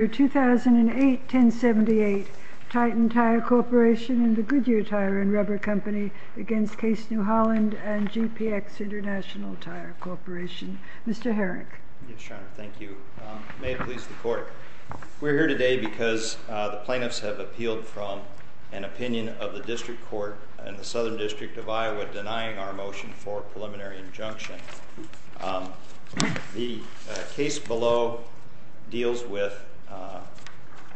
2008-1078 Titan Tire Corporation and the Goodyear Tire and Rubber Company against Case New Holland and GPX International Tire Corporation Mr. Herrick Yes, Your Honor. Thank you. May it please the Court We're here today because the plaintiffs have appealed from an opinion of the District Court and the Southern District of Iowa denying our motion for a preliminary injunction The case below deals with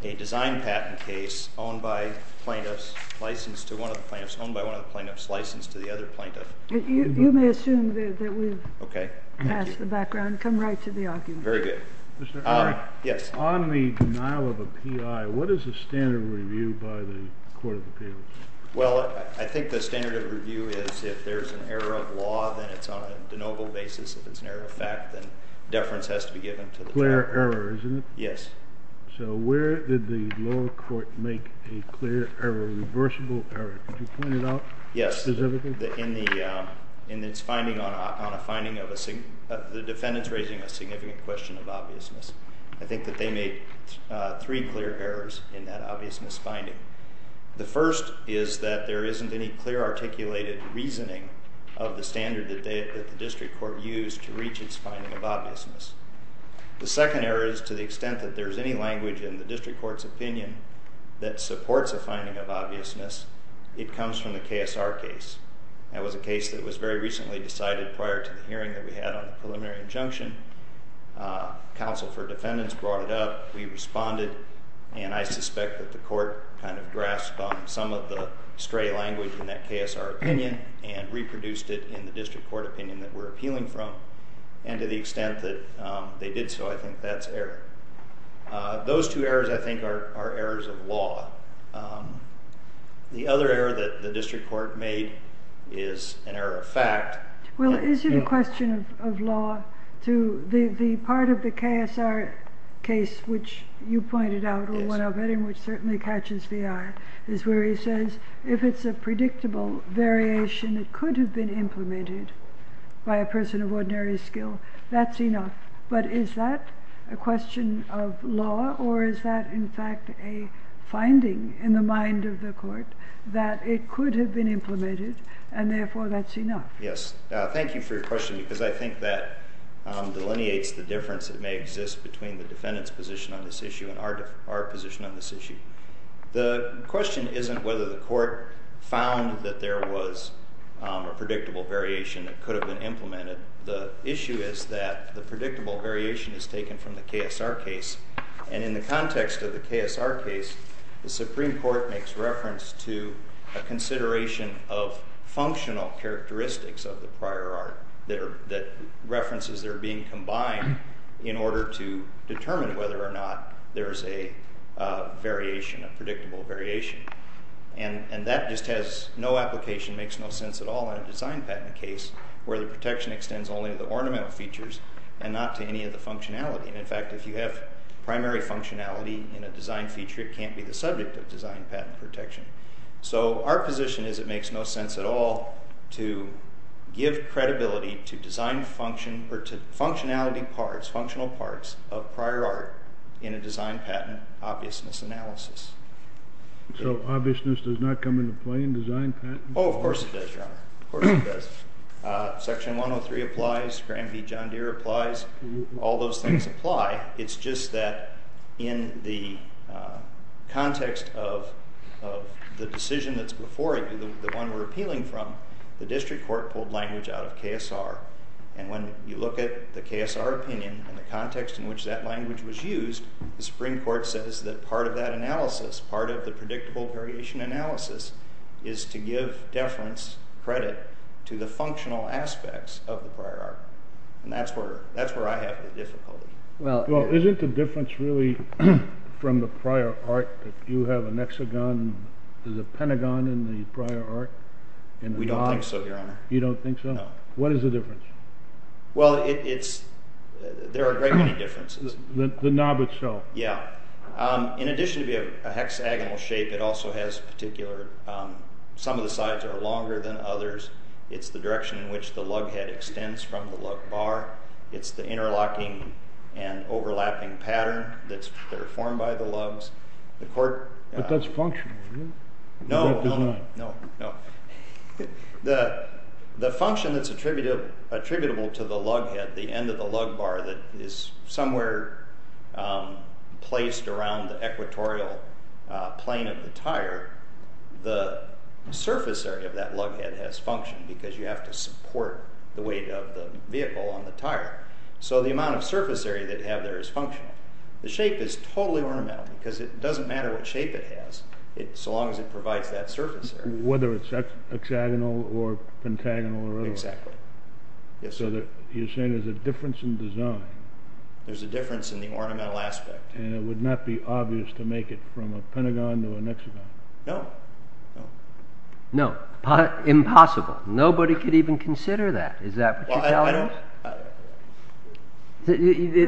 a design patent case owned by plaintiffs, licensed to one of the plaintiffs, owned by one of the plaintiffs, licensed to the other plaintiff You may assume that we've passed the background. Come right to the argument Mr. Herrick Yes On the denial of a PI, what is the standard review by the Court of Appeals? Well, I think the standard of review is if there's an error of law, then it's on a de novo basis If it's an error of fact, then deference has to be given to the defendant Clear error, isn't it? Yes So where did the lower court make a clear error, reversible error? Could you point it out specifically? Yes, in its finding on a finding of a, the defendant's raising a significant question of obviousness I think that they made three clear errors in that obviousness finding The first is that there isn't any clear articulated reasoning of the standard that the district court used to reach its finding of obviousness The second error is to the extent that there's any language in the district court's opinion that supports a finding of obviousness It comes from the KSR case That was a case that was very recently decided prior to the hearing that we had on the preliminary injunction Counsel for defendants brought it up, we responded And I suspect that the court kind of grasped on some of the stray language in that KSR opinion And reproduced it in the district court opinion that we're appealing from And to the extent that they did so, I think that's error Those two errors, I think, are errors of law The other error that the district court made is an error of fact Well, is it a question of law to, the part of the KSR case which you pointed out Or one of it, which certainly catches the eye Is where he says, if it's a predictable variation, it could have been implemented By a person of ordinary skill, that's enough But is that a question of law, or is that in fact a finding in the mind of the court That it could have been implemented, and therefore that's enough Yes, thank you for your question, because I think that delineates the difference That may exist between the defendant's position on this issue and our position on this issue The question isn't whether the court found that there was a predictable variation that could have been implemented The issue is that the predictable variation is taken from the KSR case And in the context of the KSR case, the Supreme Court makes reference to A consideration of functional characteristics of the prior art That references that are being combined in order to determine whether or not There is a variation, a predictable variation And that just has no application, makes no sense at all in a design patent case Where the protection extends only to the ornamental features and not to any of the functionality In fact, if you have primary functionality in a design feature, it can't be the subject of design patent protection So our position is it makes no sense at all to give credibility to design function Or to functionality parts, functional parts of prior art in a design patent obviousness analysis So obviousness does not come into play in design patents? Oh, of course it does, Your Honor, of course it does Section 103 applies, Granby-John Deere applies, all those things apply It's just that in the context of the decision that's before you, the one we're appealing from The district court pulled language out of KSR And when you look at the KSR opinion and the context in which that language was used The Supreme Court says that part of that analysis, part of the predictable variation analysis Is to give deference credit to the functional aspects of the prior art And that's where I have the difficulty Well, isn't the difference really from the prior art that you have an hexagon, there's a pentagon in the prior art We don't think so, Your Honor You don't think so? No What is the difference? Well, it's, there are a great many differences The knob itself Yeah, in addition to being a hexagonal shape, it also has particular, some of the sides are longer than others It's the direction in which the lug head extends from the lug bar It's the interlocking and overlapping pattern that are formed by the lugs But that's functional, isn't it? No, no, no The function that's attributable to the lug head, the end of the lug bar that is somewhere placed around the equatorial plane of the tire The surface area of that lug head has function because you have to support the weight of the vehicle on the tire So the amount of surface area that you have there is functional The shape is totally ornamental because it doesn't matter what shape it has So long as it provides that surface area Whether it's hexagonal or pentagonal or whatever Exactly So you're saying there's a difference in design There's a difference in the ornamental aspect And it would not be obvious to make it from a pentagon to a hexagon No, no No, impossible Nobody could even consider that Is that what you're telling us? Well, I don't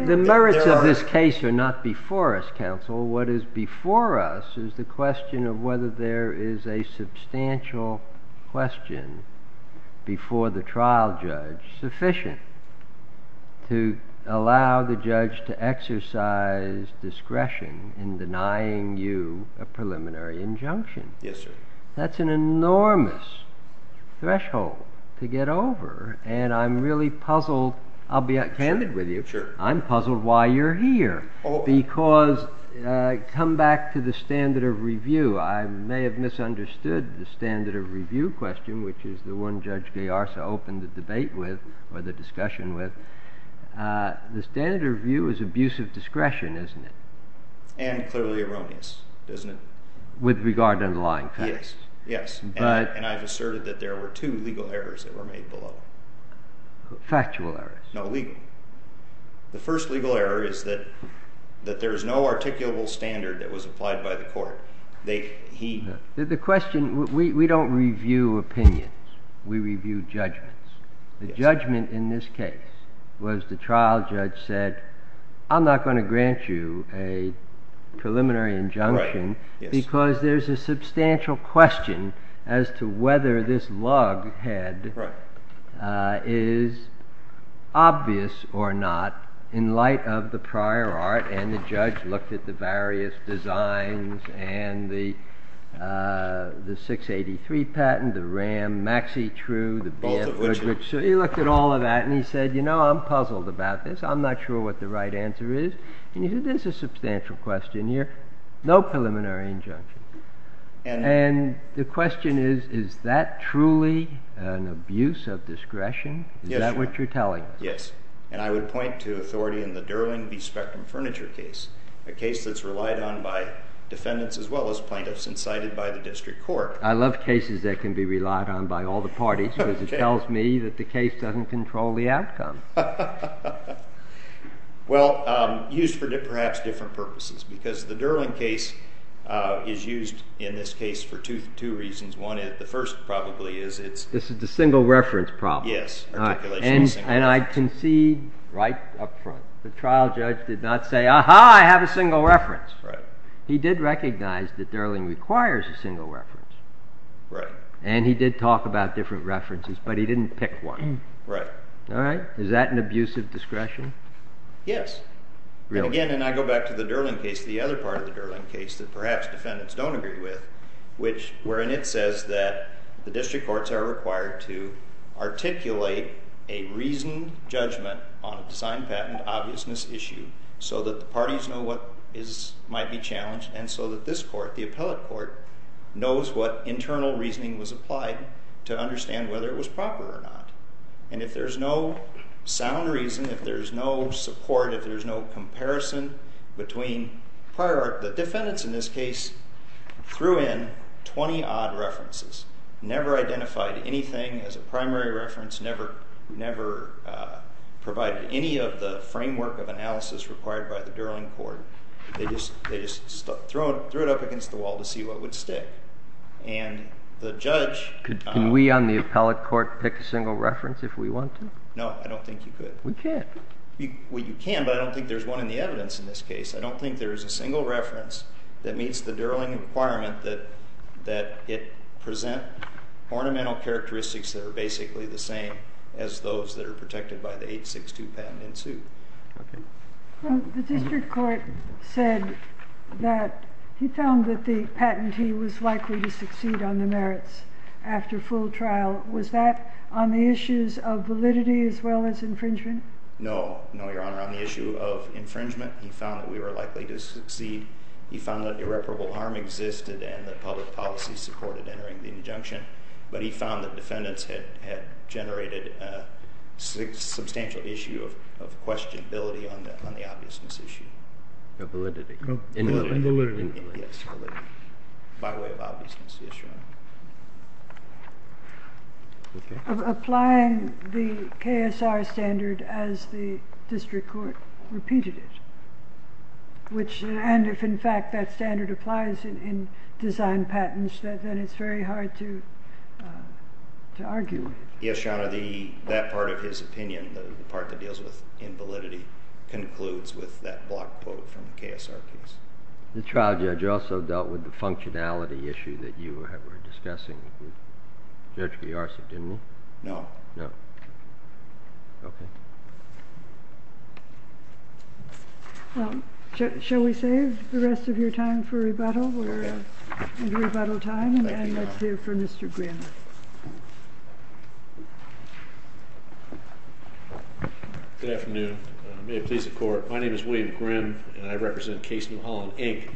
The merits of this case are not before us, counsel What is before us is the question of whether there is a substantial question before the trial judge sufficient To allow the judge to exercise discretion in denying you a preliminary injunction Yes, sir That's an enormous threshold to get over And I'm really puzzled I'll be candid with you Sure I'm puzzled why you're here Because come back to the standard of review I may have misunderstood the standard of review question Which is the one Judge Gaiarsa opened the debate with Or the discussion with The standard of review is abuse of discretion, isn't it? And clearly erroneous, isn't it? With regard to underlying facts Yes, yes And I've asserted that there were two legal errors that were made below Factual errors No, legal The first legal error is that there is no articulable standard that was applied by the court The question, we don't review opinions We review judgments The judgment in this case was the trial judge said I'm not going to grant you a preliminary injunction Right, yes Because there's a substantial question as to whether this log head Right Is obvious or not in light of the prior art And the judge looked at the various designs And the 683 patent, the RAM, Maxi True Both of which So he looked at all of that and he said You know, I'm puzzled about this I'm not sure what the right answer is And he said there's a substantial question here No preliminary injunction And the question is Is that truly an abuse of discretion? Is that what you're telling us? Yes And I would point to authority in the Durling v. Spectrum Furniture case A case that's relied on by defendants as well as plaintiffs And cited by the district court I love cases that can be relied on by all the parties Because it tells me that the case doesn't control the outcome Well, used for perhaps different purposes Because the Durling case is used in this case for two reasons One is the first probably is This is the single reference problem Yes And I concede right up front The trial judge did not say Aha, I have a single reference He did recognize that Durling requires a single reference Right And he did talk about different references But he didn't pick one Right Is that an abuse of discretion? Yes And again, I go back to the Durling case The other part of the Durling case That perhaps defendants don't agree with Which wherein it says that The district courts are required to Articulate a reasoned judgment On a design patent obviousness issue So that the parties know what might be challenged And so that this court, the appellate court Knows what internal reasoning was applied To understand whether it was proper or not And if there's no sound reason If there's no support If there's no comparison between prior The defendants in this case Threw in 20-odd references Never identified anything as a primary reference Never provided any of the framework of analysis Required by the Durling court They just threw it up against the wall To see what would stick And the judge Can we on the appellate court Pick a single reference if we want to? No, I don't think you could We can't Well, you can But I don't think there's one in the evidence in this case I don't think there's a single reference That meets the Durling requirement That it present ornamental characteristics That are basically the same As those that are protected by the 862 patent in suit Okay The district court said That he found that the patentee Was likely to succeed on the merits After full trial Was that on the issues of validity As well as infringement? No, no, your honor On the issue of infringement He found that we were likely to succeed He found that irreparable harm existed And that public policy supported entering the injunction But he found that defendants had generated A substantial issue of questionability On the obviousness issue Of validity Of validity Yes, validity By way of obviousness, yes, your honor Okay Applying the KSR standard As the district court repeated it Which, and if in fact that standard applies In design patents Then it's very hard to argue Yes, your honor That part of his opinion The part that deals with invalidity Concludes with that block quote from the KSR case The trial judge also dealt with the functionality issue That you were discussing With Judge Giorgi, didn't he? No No Okay Well, shall we save the rest of your time for rebuttal? We're into rebuttal time And let's hear from Mr. Grimm Good afternoon May it please the court My name is William Grimm And I represent Case New Holland, Inc.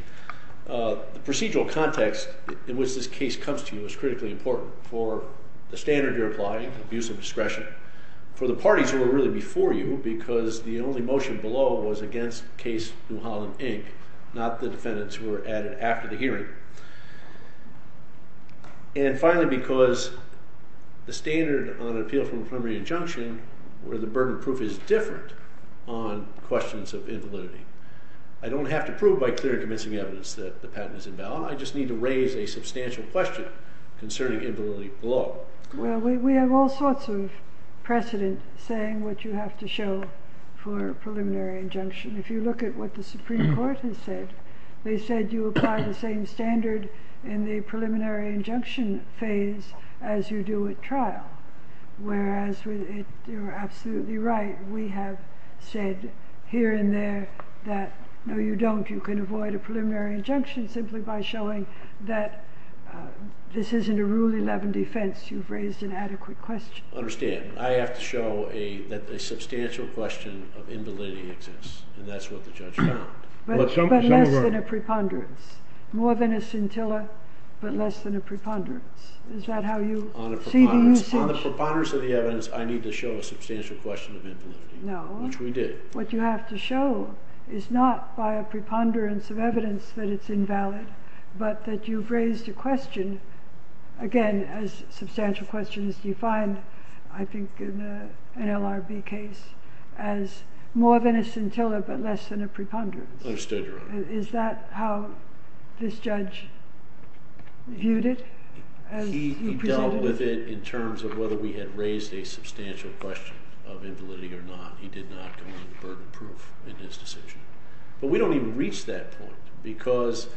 The procedural context in which this case comes to you Is critically important For the standard you're applying Abuse of discretion For the parties who were really before you Because the only motion below Was against Case New Holland, Inc. Not the defendants who were added after the hearing And finally because The standard on an appeal from a preliminary injunction Where the burden of proof is different On questions of invalidity I don't have to prove by clear and convincing evidence That the patent is invalid I just need to raise a substantial question Concerning invalidity below Well, we have all sorts of precedent Saying what you have to show For a preliminary injunction If you look at what the Supreme Court has said They said you apply the same standard In the preliminary injunction phase As you do at trial Whereas you're absolutely right We have said here and there That no you don't You can avoid a preliminary injunction Simply by showing that This isn't a Rule 11 defense You've raised an adequate question Understand, I have to show That a substantial question of invalidity exists And that's what the judge found But less than a preponderance More than a scintilla But less than a preponderance Is that how you see the usage? On the preponderance of the evidence I need to show a substantial question of invalidity No Which we did What you have to show Is not by a preponderance of evidence That it's invalid But that you've raised a question Again, as substantial questions You find, I think, in an LRB case As more than a scintilla But less than a preponderance Understood, Your Honor Is that how this judge viewed it? He dealt with it in terms of Whether we had raised a substantial question Of invalidity or not He did not Because it was a burden of proof In his decision But we don't even reach that point Because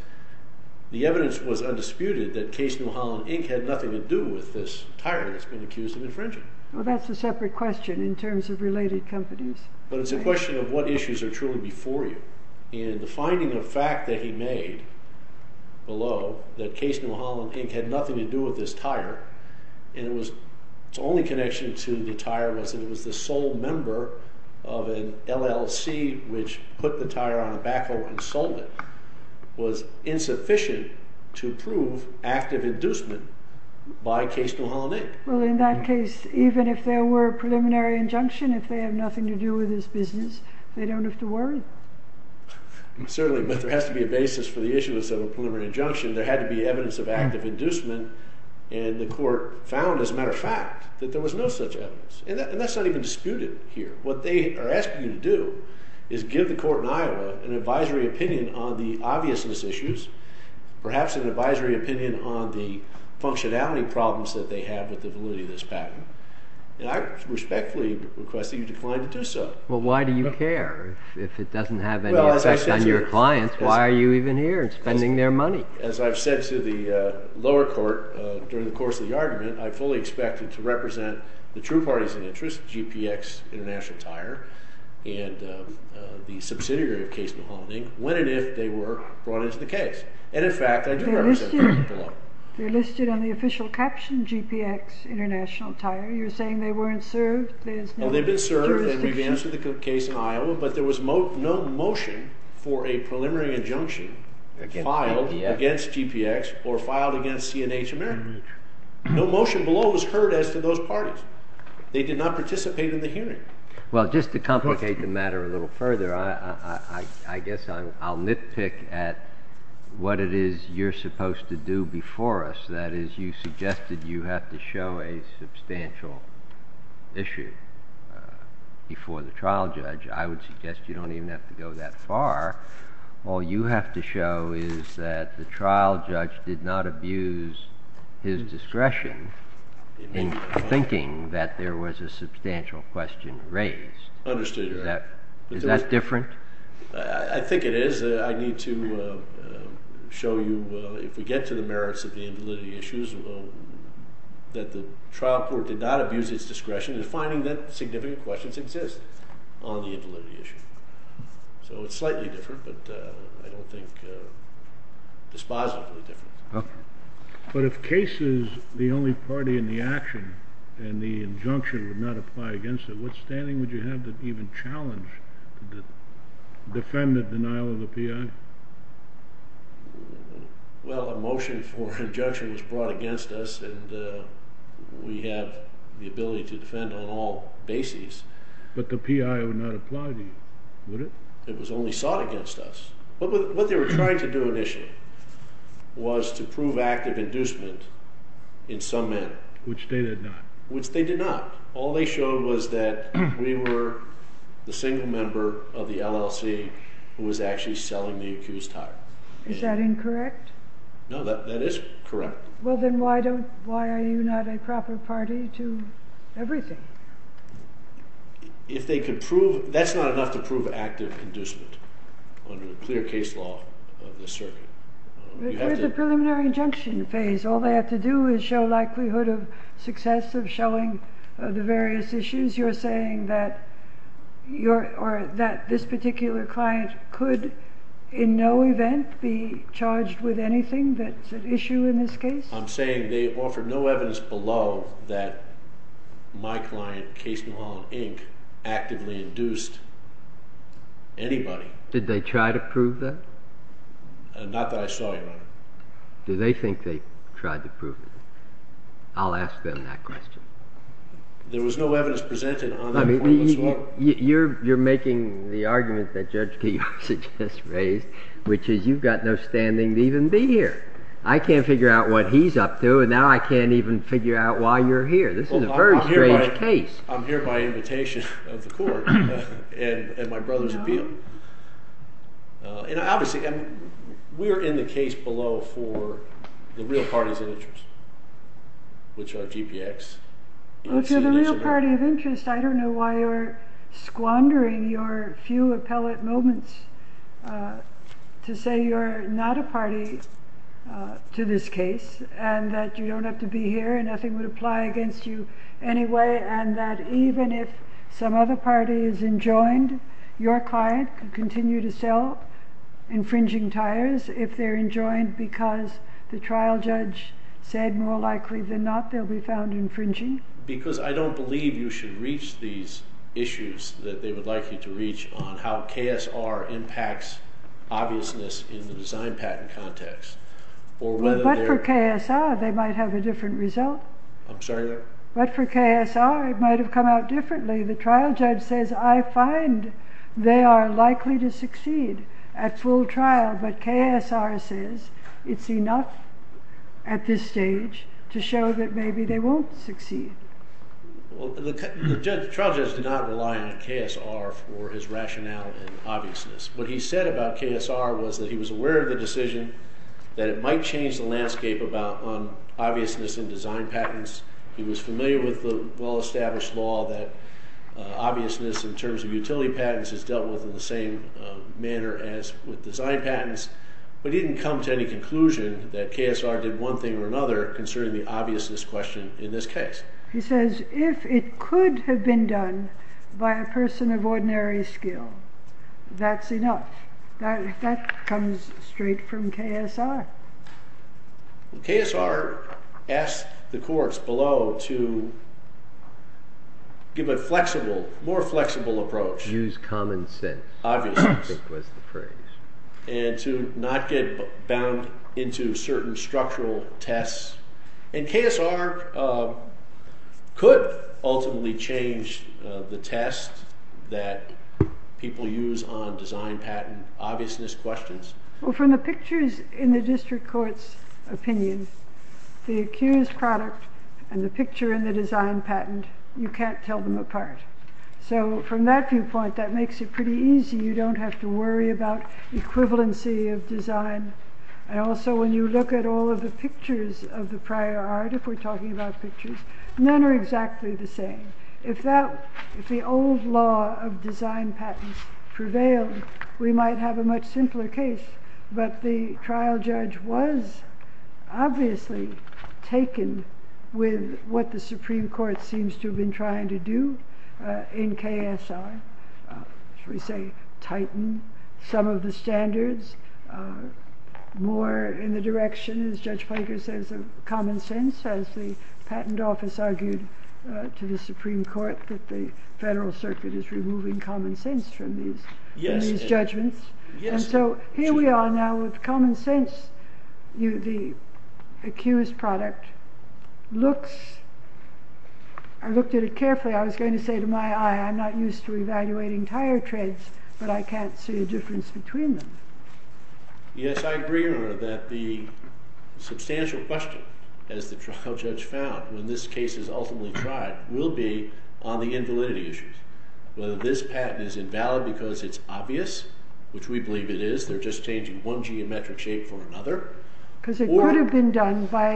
the evidence was undisputed That Case New Holland, Inc. Had nothing to do with this tire That's been accused of infringing Well, that's a separate question In terms of related companies But it's a question of What issues are truly before you And the finding of fact that he made Below That Case New Holland, Inc. Had nothing to do with this tire And it was Its only connection to the tire Was that it was the sole member Of an LLC Which put the tire on a backhoe and sold it Was insufficient to prove Active inducement by Case New Holland, Inc. Well, in that case Even if there were a preliminary injunction If they have nothing to do with this business They don't have to worry Certainly, but there has to be a basis For the issuance of a preliminary injunction There had to be evidence of active inducement And the court found, as a matter of fact That there was no such evidence And that's not even disputed here What they are asking you to do Is give the court in Iowa An advisory opinion On the obviousness issues Perhaps an advisory opinion On the functionality problems That they have with the validity of this patent And I respectfully request That you decline to do so Well, why do you care? If it doesn't have any effect on your clients Why are you even here Spending their money? As I've said to the lower court During the course of the argument I fully expect it to represent The true parties of interest GPX International Tire And the subsidiary of Case New Holland, Inc. When and if they were brought into the case And in fact, I do represent them They're listed on the official caption GPX International Tire You're saying they weren't served? They've been served And we've answered the case in Iowa But there was no motion For a preliminary injunction Filed against GPX No motion below was heard as to those parties They did not participate in the hearing Well, just to complicate the matter A little further I guess I'll nitpick At what it is you're supposed to do Before us That is, you suggested You have to show a substantial issue Before the trial judge I would suggest You don't even have to go that far All you have to show Is that the trial judge Did not abuse his discretion In thinking that there was A substantial question raised Understood, Your Honor Is that different? I think it is I need to show you If we get to the merits of the invalidity issues That the trial court did not abuse its discretion In finding that significant questions exist On the invalidity issue So it's slightly different But I don't think dispositively different But if Case is the only party in the action And the injunction would not apply against it What standing would you have to even challenge To defend the denial of the P.I.? Well, a motion for injunction was brought against us And we have the ability to defend on all bases But the P.I. would not apply to you, would it? It was only sought against us What they were trying to do initially Was to prove active inducement In some men Which they did not Which they did not All they showed was that We were the single member of the LLC Who was actually selling the accused hire Is that incorrect? No, that is correct Well, then why are you not a proper party to everything? If they could prove That's not enough to prove active inducement Under the clear case law of this circuit There's a preliminary injunction phase All they have to do Is show likelihood of success Of showing the various issues You're saying that This particular client could In no event be charged with anything That's an issue in this case? I'm saying they offered no evidence below That my client, Case Newholland, Inc. Actively induced anybody Did they try to prove that? Not that I saw anybody Do they think they tried to prove it? I'll ask them that question There was no evidence presented on the form as well You're making the argument that Judge Piazza just raised Which is you've got no standing to even be here I can't figure out what he's up to And now I can't even figure out why you're here This is a very strange case I'm here by invitation of the court And my brother's appeal And obviously We're in the case below for The real parties of interest Which are GPX If you're the real party of interest I don't know why you're Squandering your few appellate moments To say you're not a party To this case And that you don't have to be here And nothing would apply against you anyway And that even if Some other party is enjoined Your client can continue to sell Infringing tires If they're enjoined because The trial judge said More likely than not they'll be found infringing Because I don't believe you should reach these issues That they would like you to reach On how KSR impacts Obviousness in the design patent context But for KSR They might have a different result I'm sorry? But for KSR it might have come out differently The trial judge says I find they are likely to succeed At full trial But KSR says It's enough at this stage To show that maybe they won't succeed The trial judge did not rely on KSR For his rationale and obviousness What he said about KSR Was that he was aware of the decision That it might change the landscape About obviousness in design patents He was familiar with the Well established law that Obviousness in terms of utility patents Is dealt with in the same manner As with design patents But he didn't come to any conclusion That KSR did one thing or another Concerning the obviousness question in this case He says if it could Have been done by a person That's enough That comes straight from KSR KSR asked the courts Below to Give a flexible More flexible approach Use common sense And to not get Bound into certain Structural tests And KSR Could ultimately change The test that People use on Design patent obviousness questions Well from the pictures In the district court's opinion The accused product And the picture in the design patent You can't tell them apart So from that viewpoint That makes it pretty easy, you don't have to worry About equivalency of design And also when you look At all of the pictures of the prior Art, if we're talking about pictures None are exactly the same If the old law Of design patents prevailed We might have a much simpler case But the trial judge Was obviously Taken with What the supreme court seems to have been Trying to do In KSR Should we say tighten Some of the standards More in the direction As Judge Plunkett says of common sense As the patent office argued To the supreme court That the federal circuit is removing Common sense from these Judgments And so here we are now With common sense The accused product Looks I looked at it carefully I was going to say to my eye I'm not used to evaluating tire treads But I can't see a difference between them Yes I agree That the substantial Question as the trial judge Found when this case is ultimately tried Will be on the invalidity issues Whether this patent is Obvious, which we believe it is They're just changing one geometric shape For another It could have been done by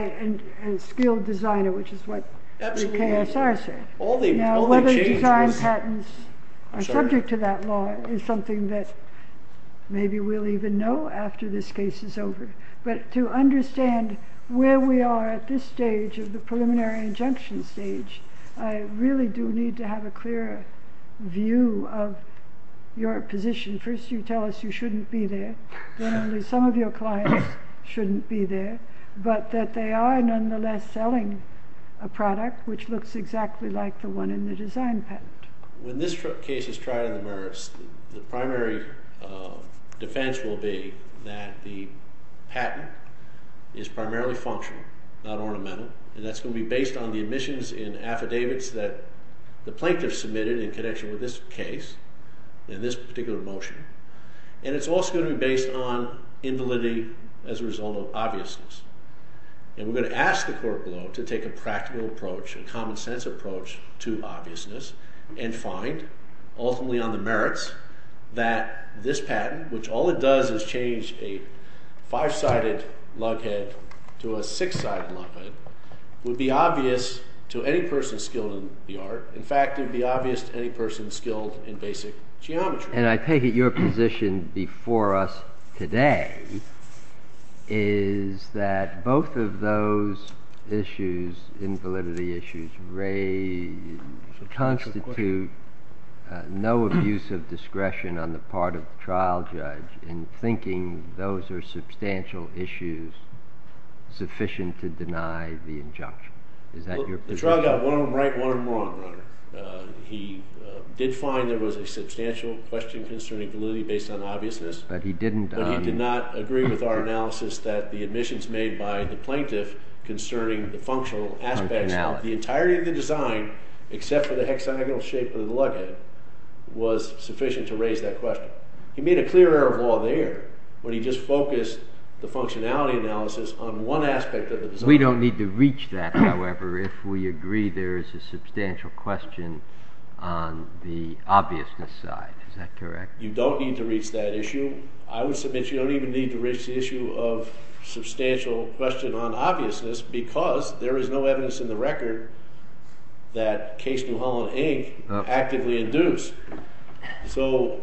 a skilled designer Which is what KSR said Whether design patents Are subject to that law Is something that Maybe we'll even know After this case is over But to understand where we are At this stage of the preliminary Injunction stage I really do need to have a clearer View of Your position First you tell us you shouldn't be there Then only some of your clients shouldn't be there But that they are nonetheless Selling a product Which looks exactly like the one in the design patent When this case is tried On the merits The primary defense will be That the patent Is primarily functional Not ornamental And that's going to be based on the admissions In affidavits that The plaintiff submitted in connection with this case In this particular motion And it's also going to be based on Invalidity As a result of obviousness And we're going to ask the court below To take a practical approach, a common sense approach To obviousness And find, ultimately on the merits That this patent Which all it does is change a Five-sided lug head To a six-sided lug head Would be obvious To any person skilled in the art In fact it would be obvious to any person skilled In basic geometry And I take it your position before us Today Is that both of those Issues Invalidity issues Constitute No abuse of discretion On the part of the trial judge In thinking those are Substantial issues Sufficient to deny The injunction The trial got one of them right and one of them wrong He did find There was a substantial question concerning Validity based on obviousness But he did not agree with our analysis That the admissions made by the plaintiff Concerning the functional Aspects of the entirety of the design Except for the hexagonal shape of the lug head Was sufficient To raise that question He made a clear error of law there When he just focused The functionality analysis On one aspect of the design We don't need to reach that however If we agree there is a substantial question On the obviousness side Is that correct? You don't need to reach that issue I would submit you don't even need to reach the issue Of substantial question on obviousness Because there is no evidence in the record That Case New Holland Inc. Actively induced So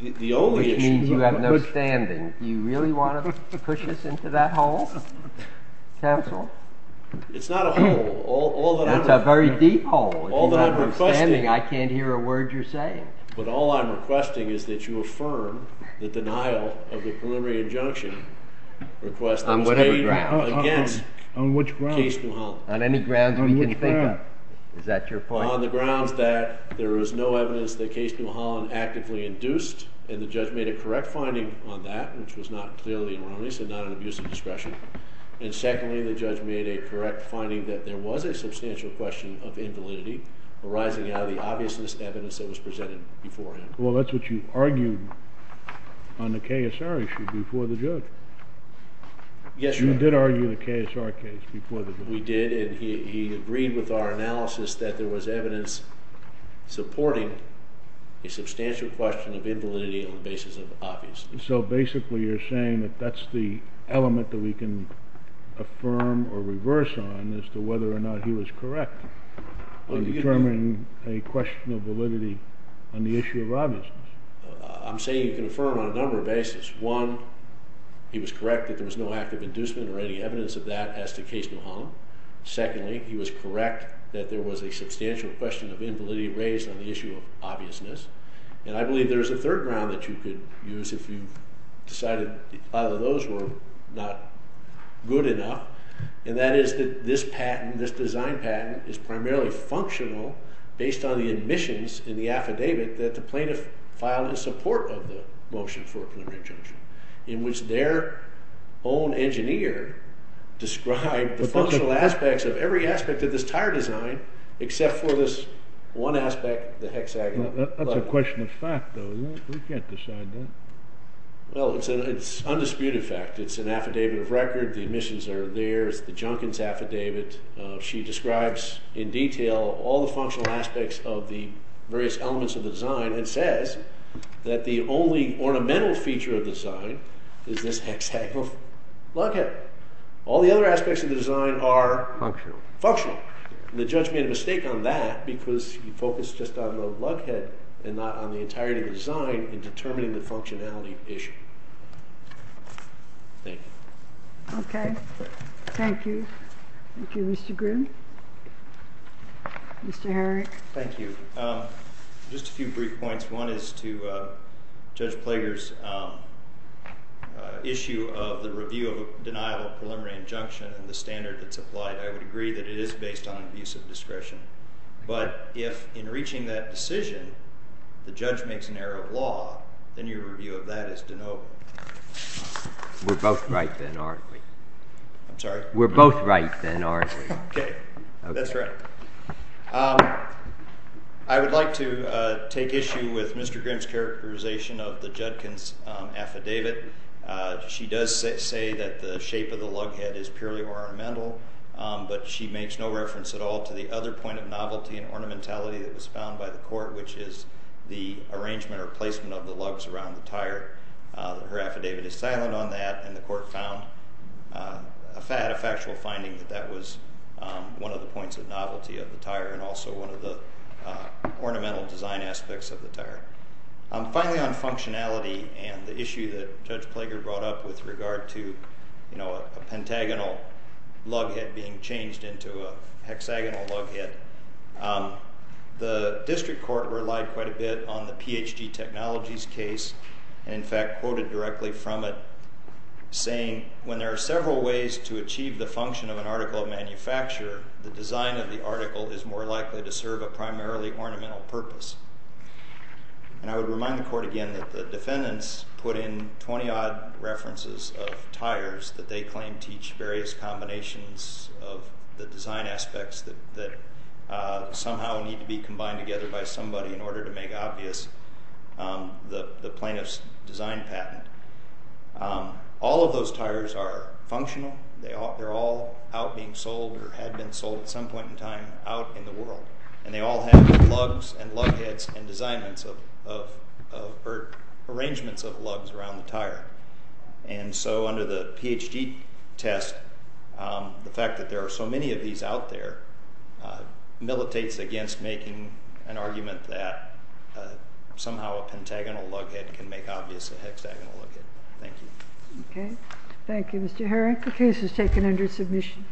The only issue Which means you have no standing Do you really want to push us into that hole? Counsel? It's not a hole It's a very deep hole All that I'm requesting I can't hear a word you're saying But all I'm requesting is that you affirm The denial of the preliminary injunction On whatever ground Against Case New Holland On any grounds we can think of Is that your point? On the grounds that There is no evidence that Case New Holland Actively induced And the judge made a correct finding on that Which was not clearly erroneous And not an abuse of discretion And secondly the judge made a correct finding That there was a substantial question of invalidity Arising out of the obviousness evidence That was presented before him Well that's what you argued On the KSR issue Before the judge You did argue the KSR case We did and he agreed with our analysis That there was evidence Supporting A substantial question of invalidity On the basis of obviousness So basically you're saying that that's the Element that we can Affirm or reverse on As to whether or not he was correct On determining a question of validity On the issue of obviousness I'm saying you can affirm On a number of basis One, he was correct that there was no active Inducement or any evidence of that as to Case New Holland. Secondly, he was Correct that there was a substantial Question of invalidity raised on the issue of Obviousness. And I believe there's a Third ground that you could use if you Decided either of those were Not good enough And that is that this patent This design patent is primarily Functional based on the Admissions in the affidavit that the plaintiff Filed in support of the Motion for a preliminary injunction In which their Own engineer Described the functional aspects of every Aspect of this tire design Except for this one aspect The hexagon. That's a question of fact Though, we can't decide that Well, it's an Undisputed fact. It's an affidavit of record The admissions are there, it's the Junkins affidavit She describes In detail all the functional aspects Of the various elements of the Design and says that the Only ornamental feature of the design Is this hexagonal Lughead. All the other aspects Of the design are functional And the judge made a mistake on that Because he focused just on the Lughead and not on the entirety of the Design in determining the functionality Issue Thank you. Okay Thank you Thank you, Mr. Grimm Mr. Herrick Thank you. Just a few brief Points. One is to Judge Plager's Issue of the review of Deniable preliminary injunction And the standard that's applied. I would agree that it is Based on abuse of discretion But if in reaching that decision The judge makes an error of law Then your review of that is Deniable We're both right then, aren't we? I'm sorry? We're both right then, aren't we? Okay. That's right I would Like to take issue with Mr. Grimm's characterization of the Judkins affidavit She does say that the Shape of the lughead is purely ornamental But she makes no reference At all to the other point of novelty and ornamentality That was found by the court Which is the arrangement or placement Of the lugs around the tire Her affidavit is silent on that And the court found A factual finding that that was One of the points of novelty of the tire And also one of the Ornamental design aspects of the tire Finally on functionality And the issue that Judge Plager brought up With regard to A pentagonal lughead Being changed into a hexagonal Lughead The district court relied Quite a bit on the Ph.D. Technologies Case and in fact quoted Directly from it Saying when there are several ways to achieve The function of an article of manufacture The design of the article is more likely To serve a primarily ornamental purpose And I would Remind the court again that the defendants Put in twenty odd references Of tires that they claim Teach various combinations Of the design aspects that Somehow need to be Combined together by somebody in order to make Obvious The plaintiff's design patent All of those tires Are functional They're all out being sold Or had been sold at some point in time Out in the world And they all have lugs and lugheads And arrangements of Lugs around the tire And so under the Ph.D. Test The fact that there are so many of these out there Militates against Making an argument that Somehow a pentagonal Lughead can make obvious a hexagonal lughead Thank you Thank you Mr. Herrick, the case is taken under submission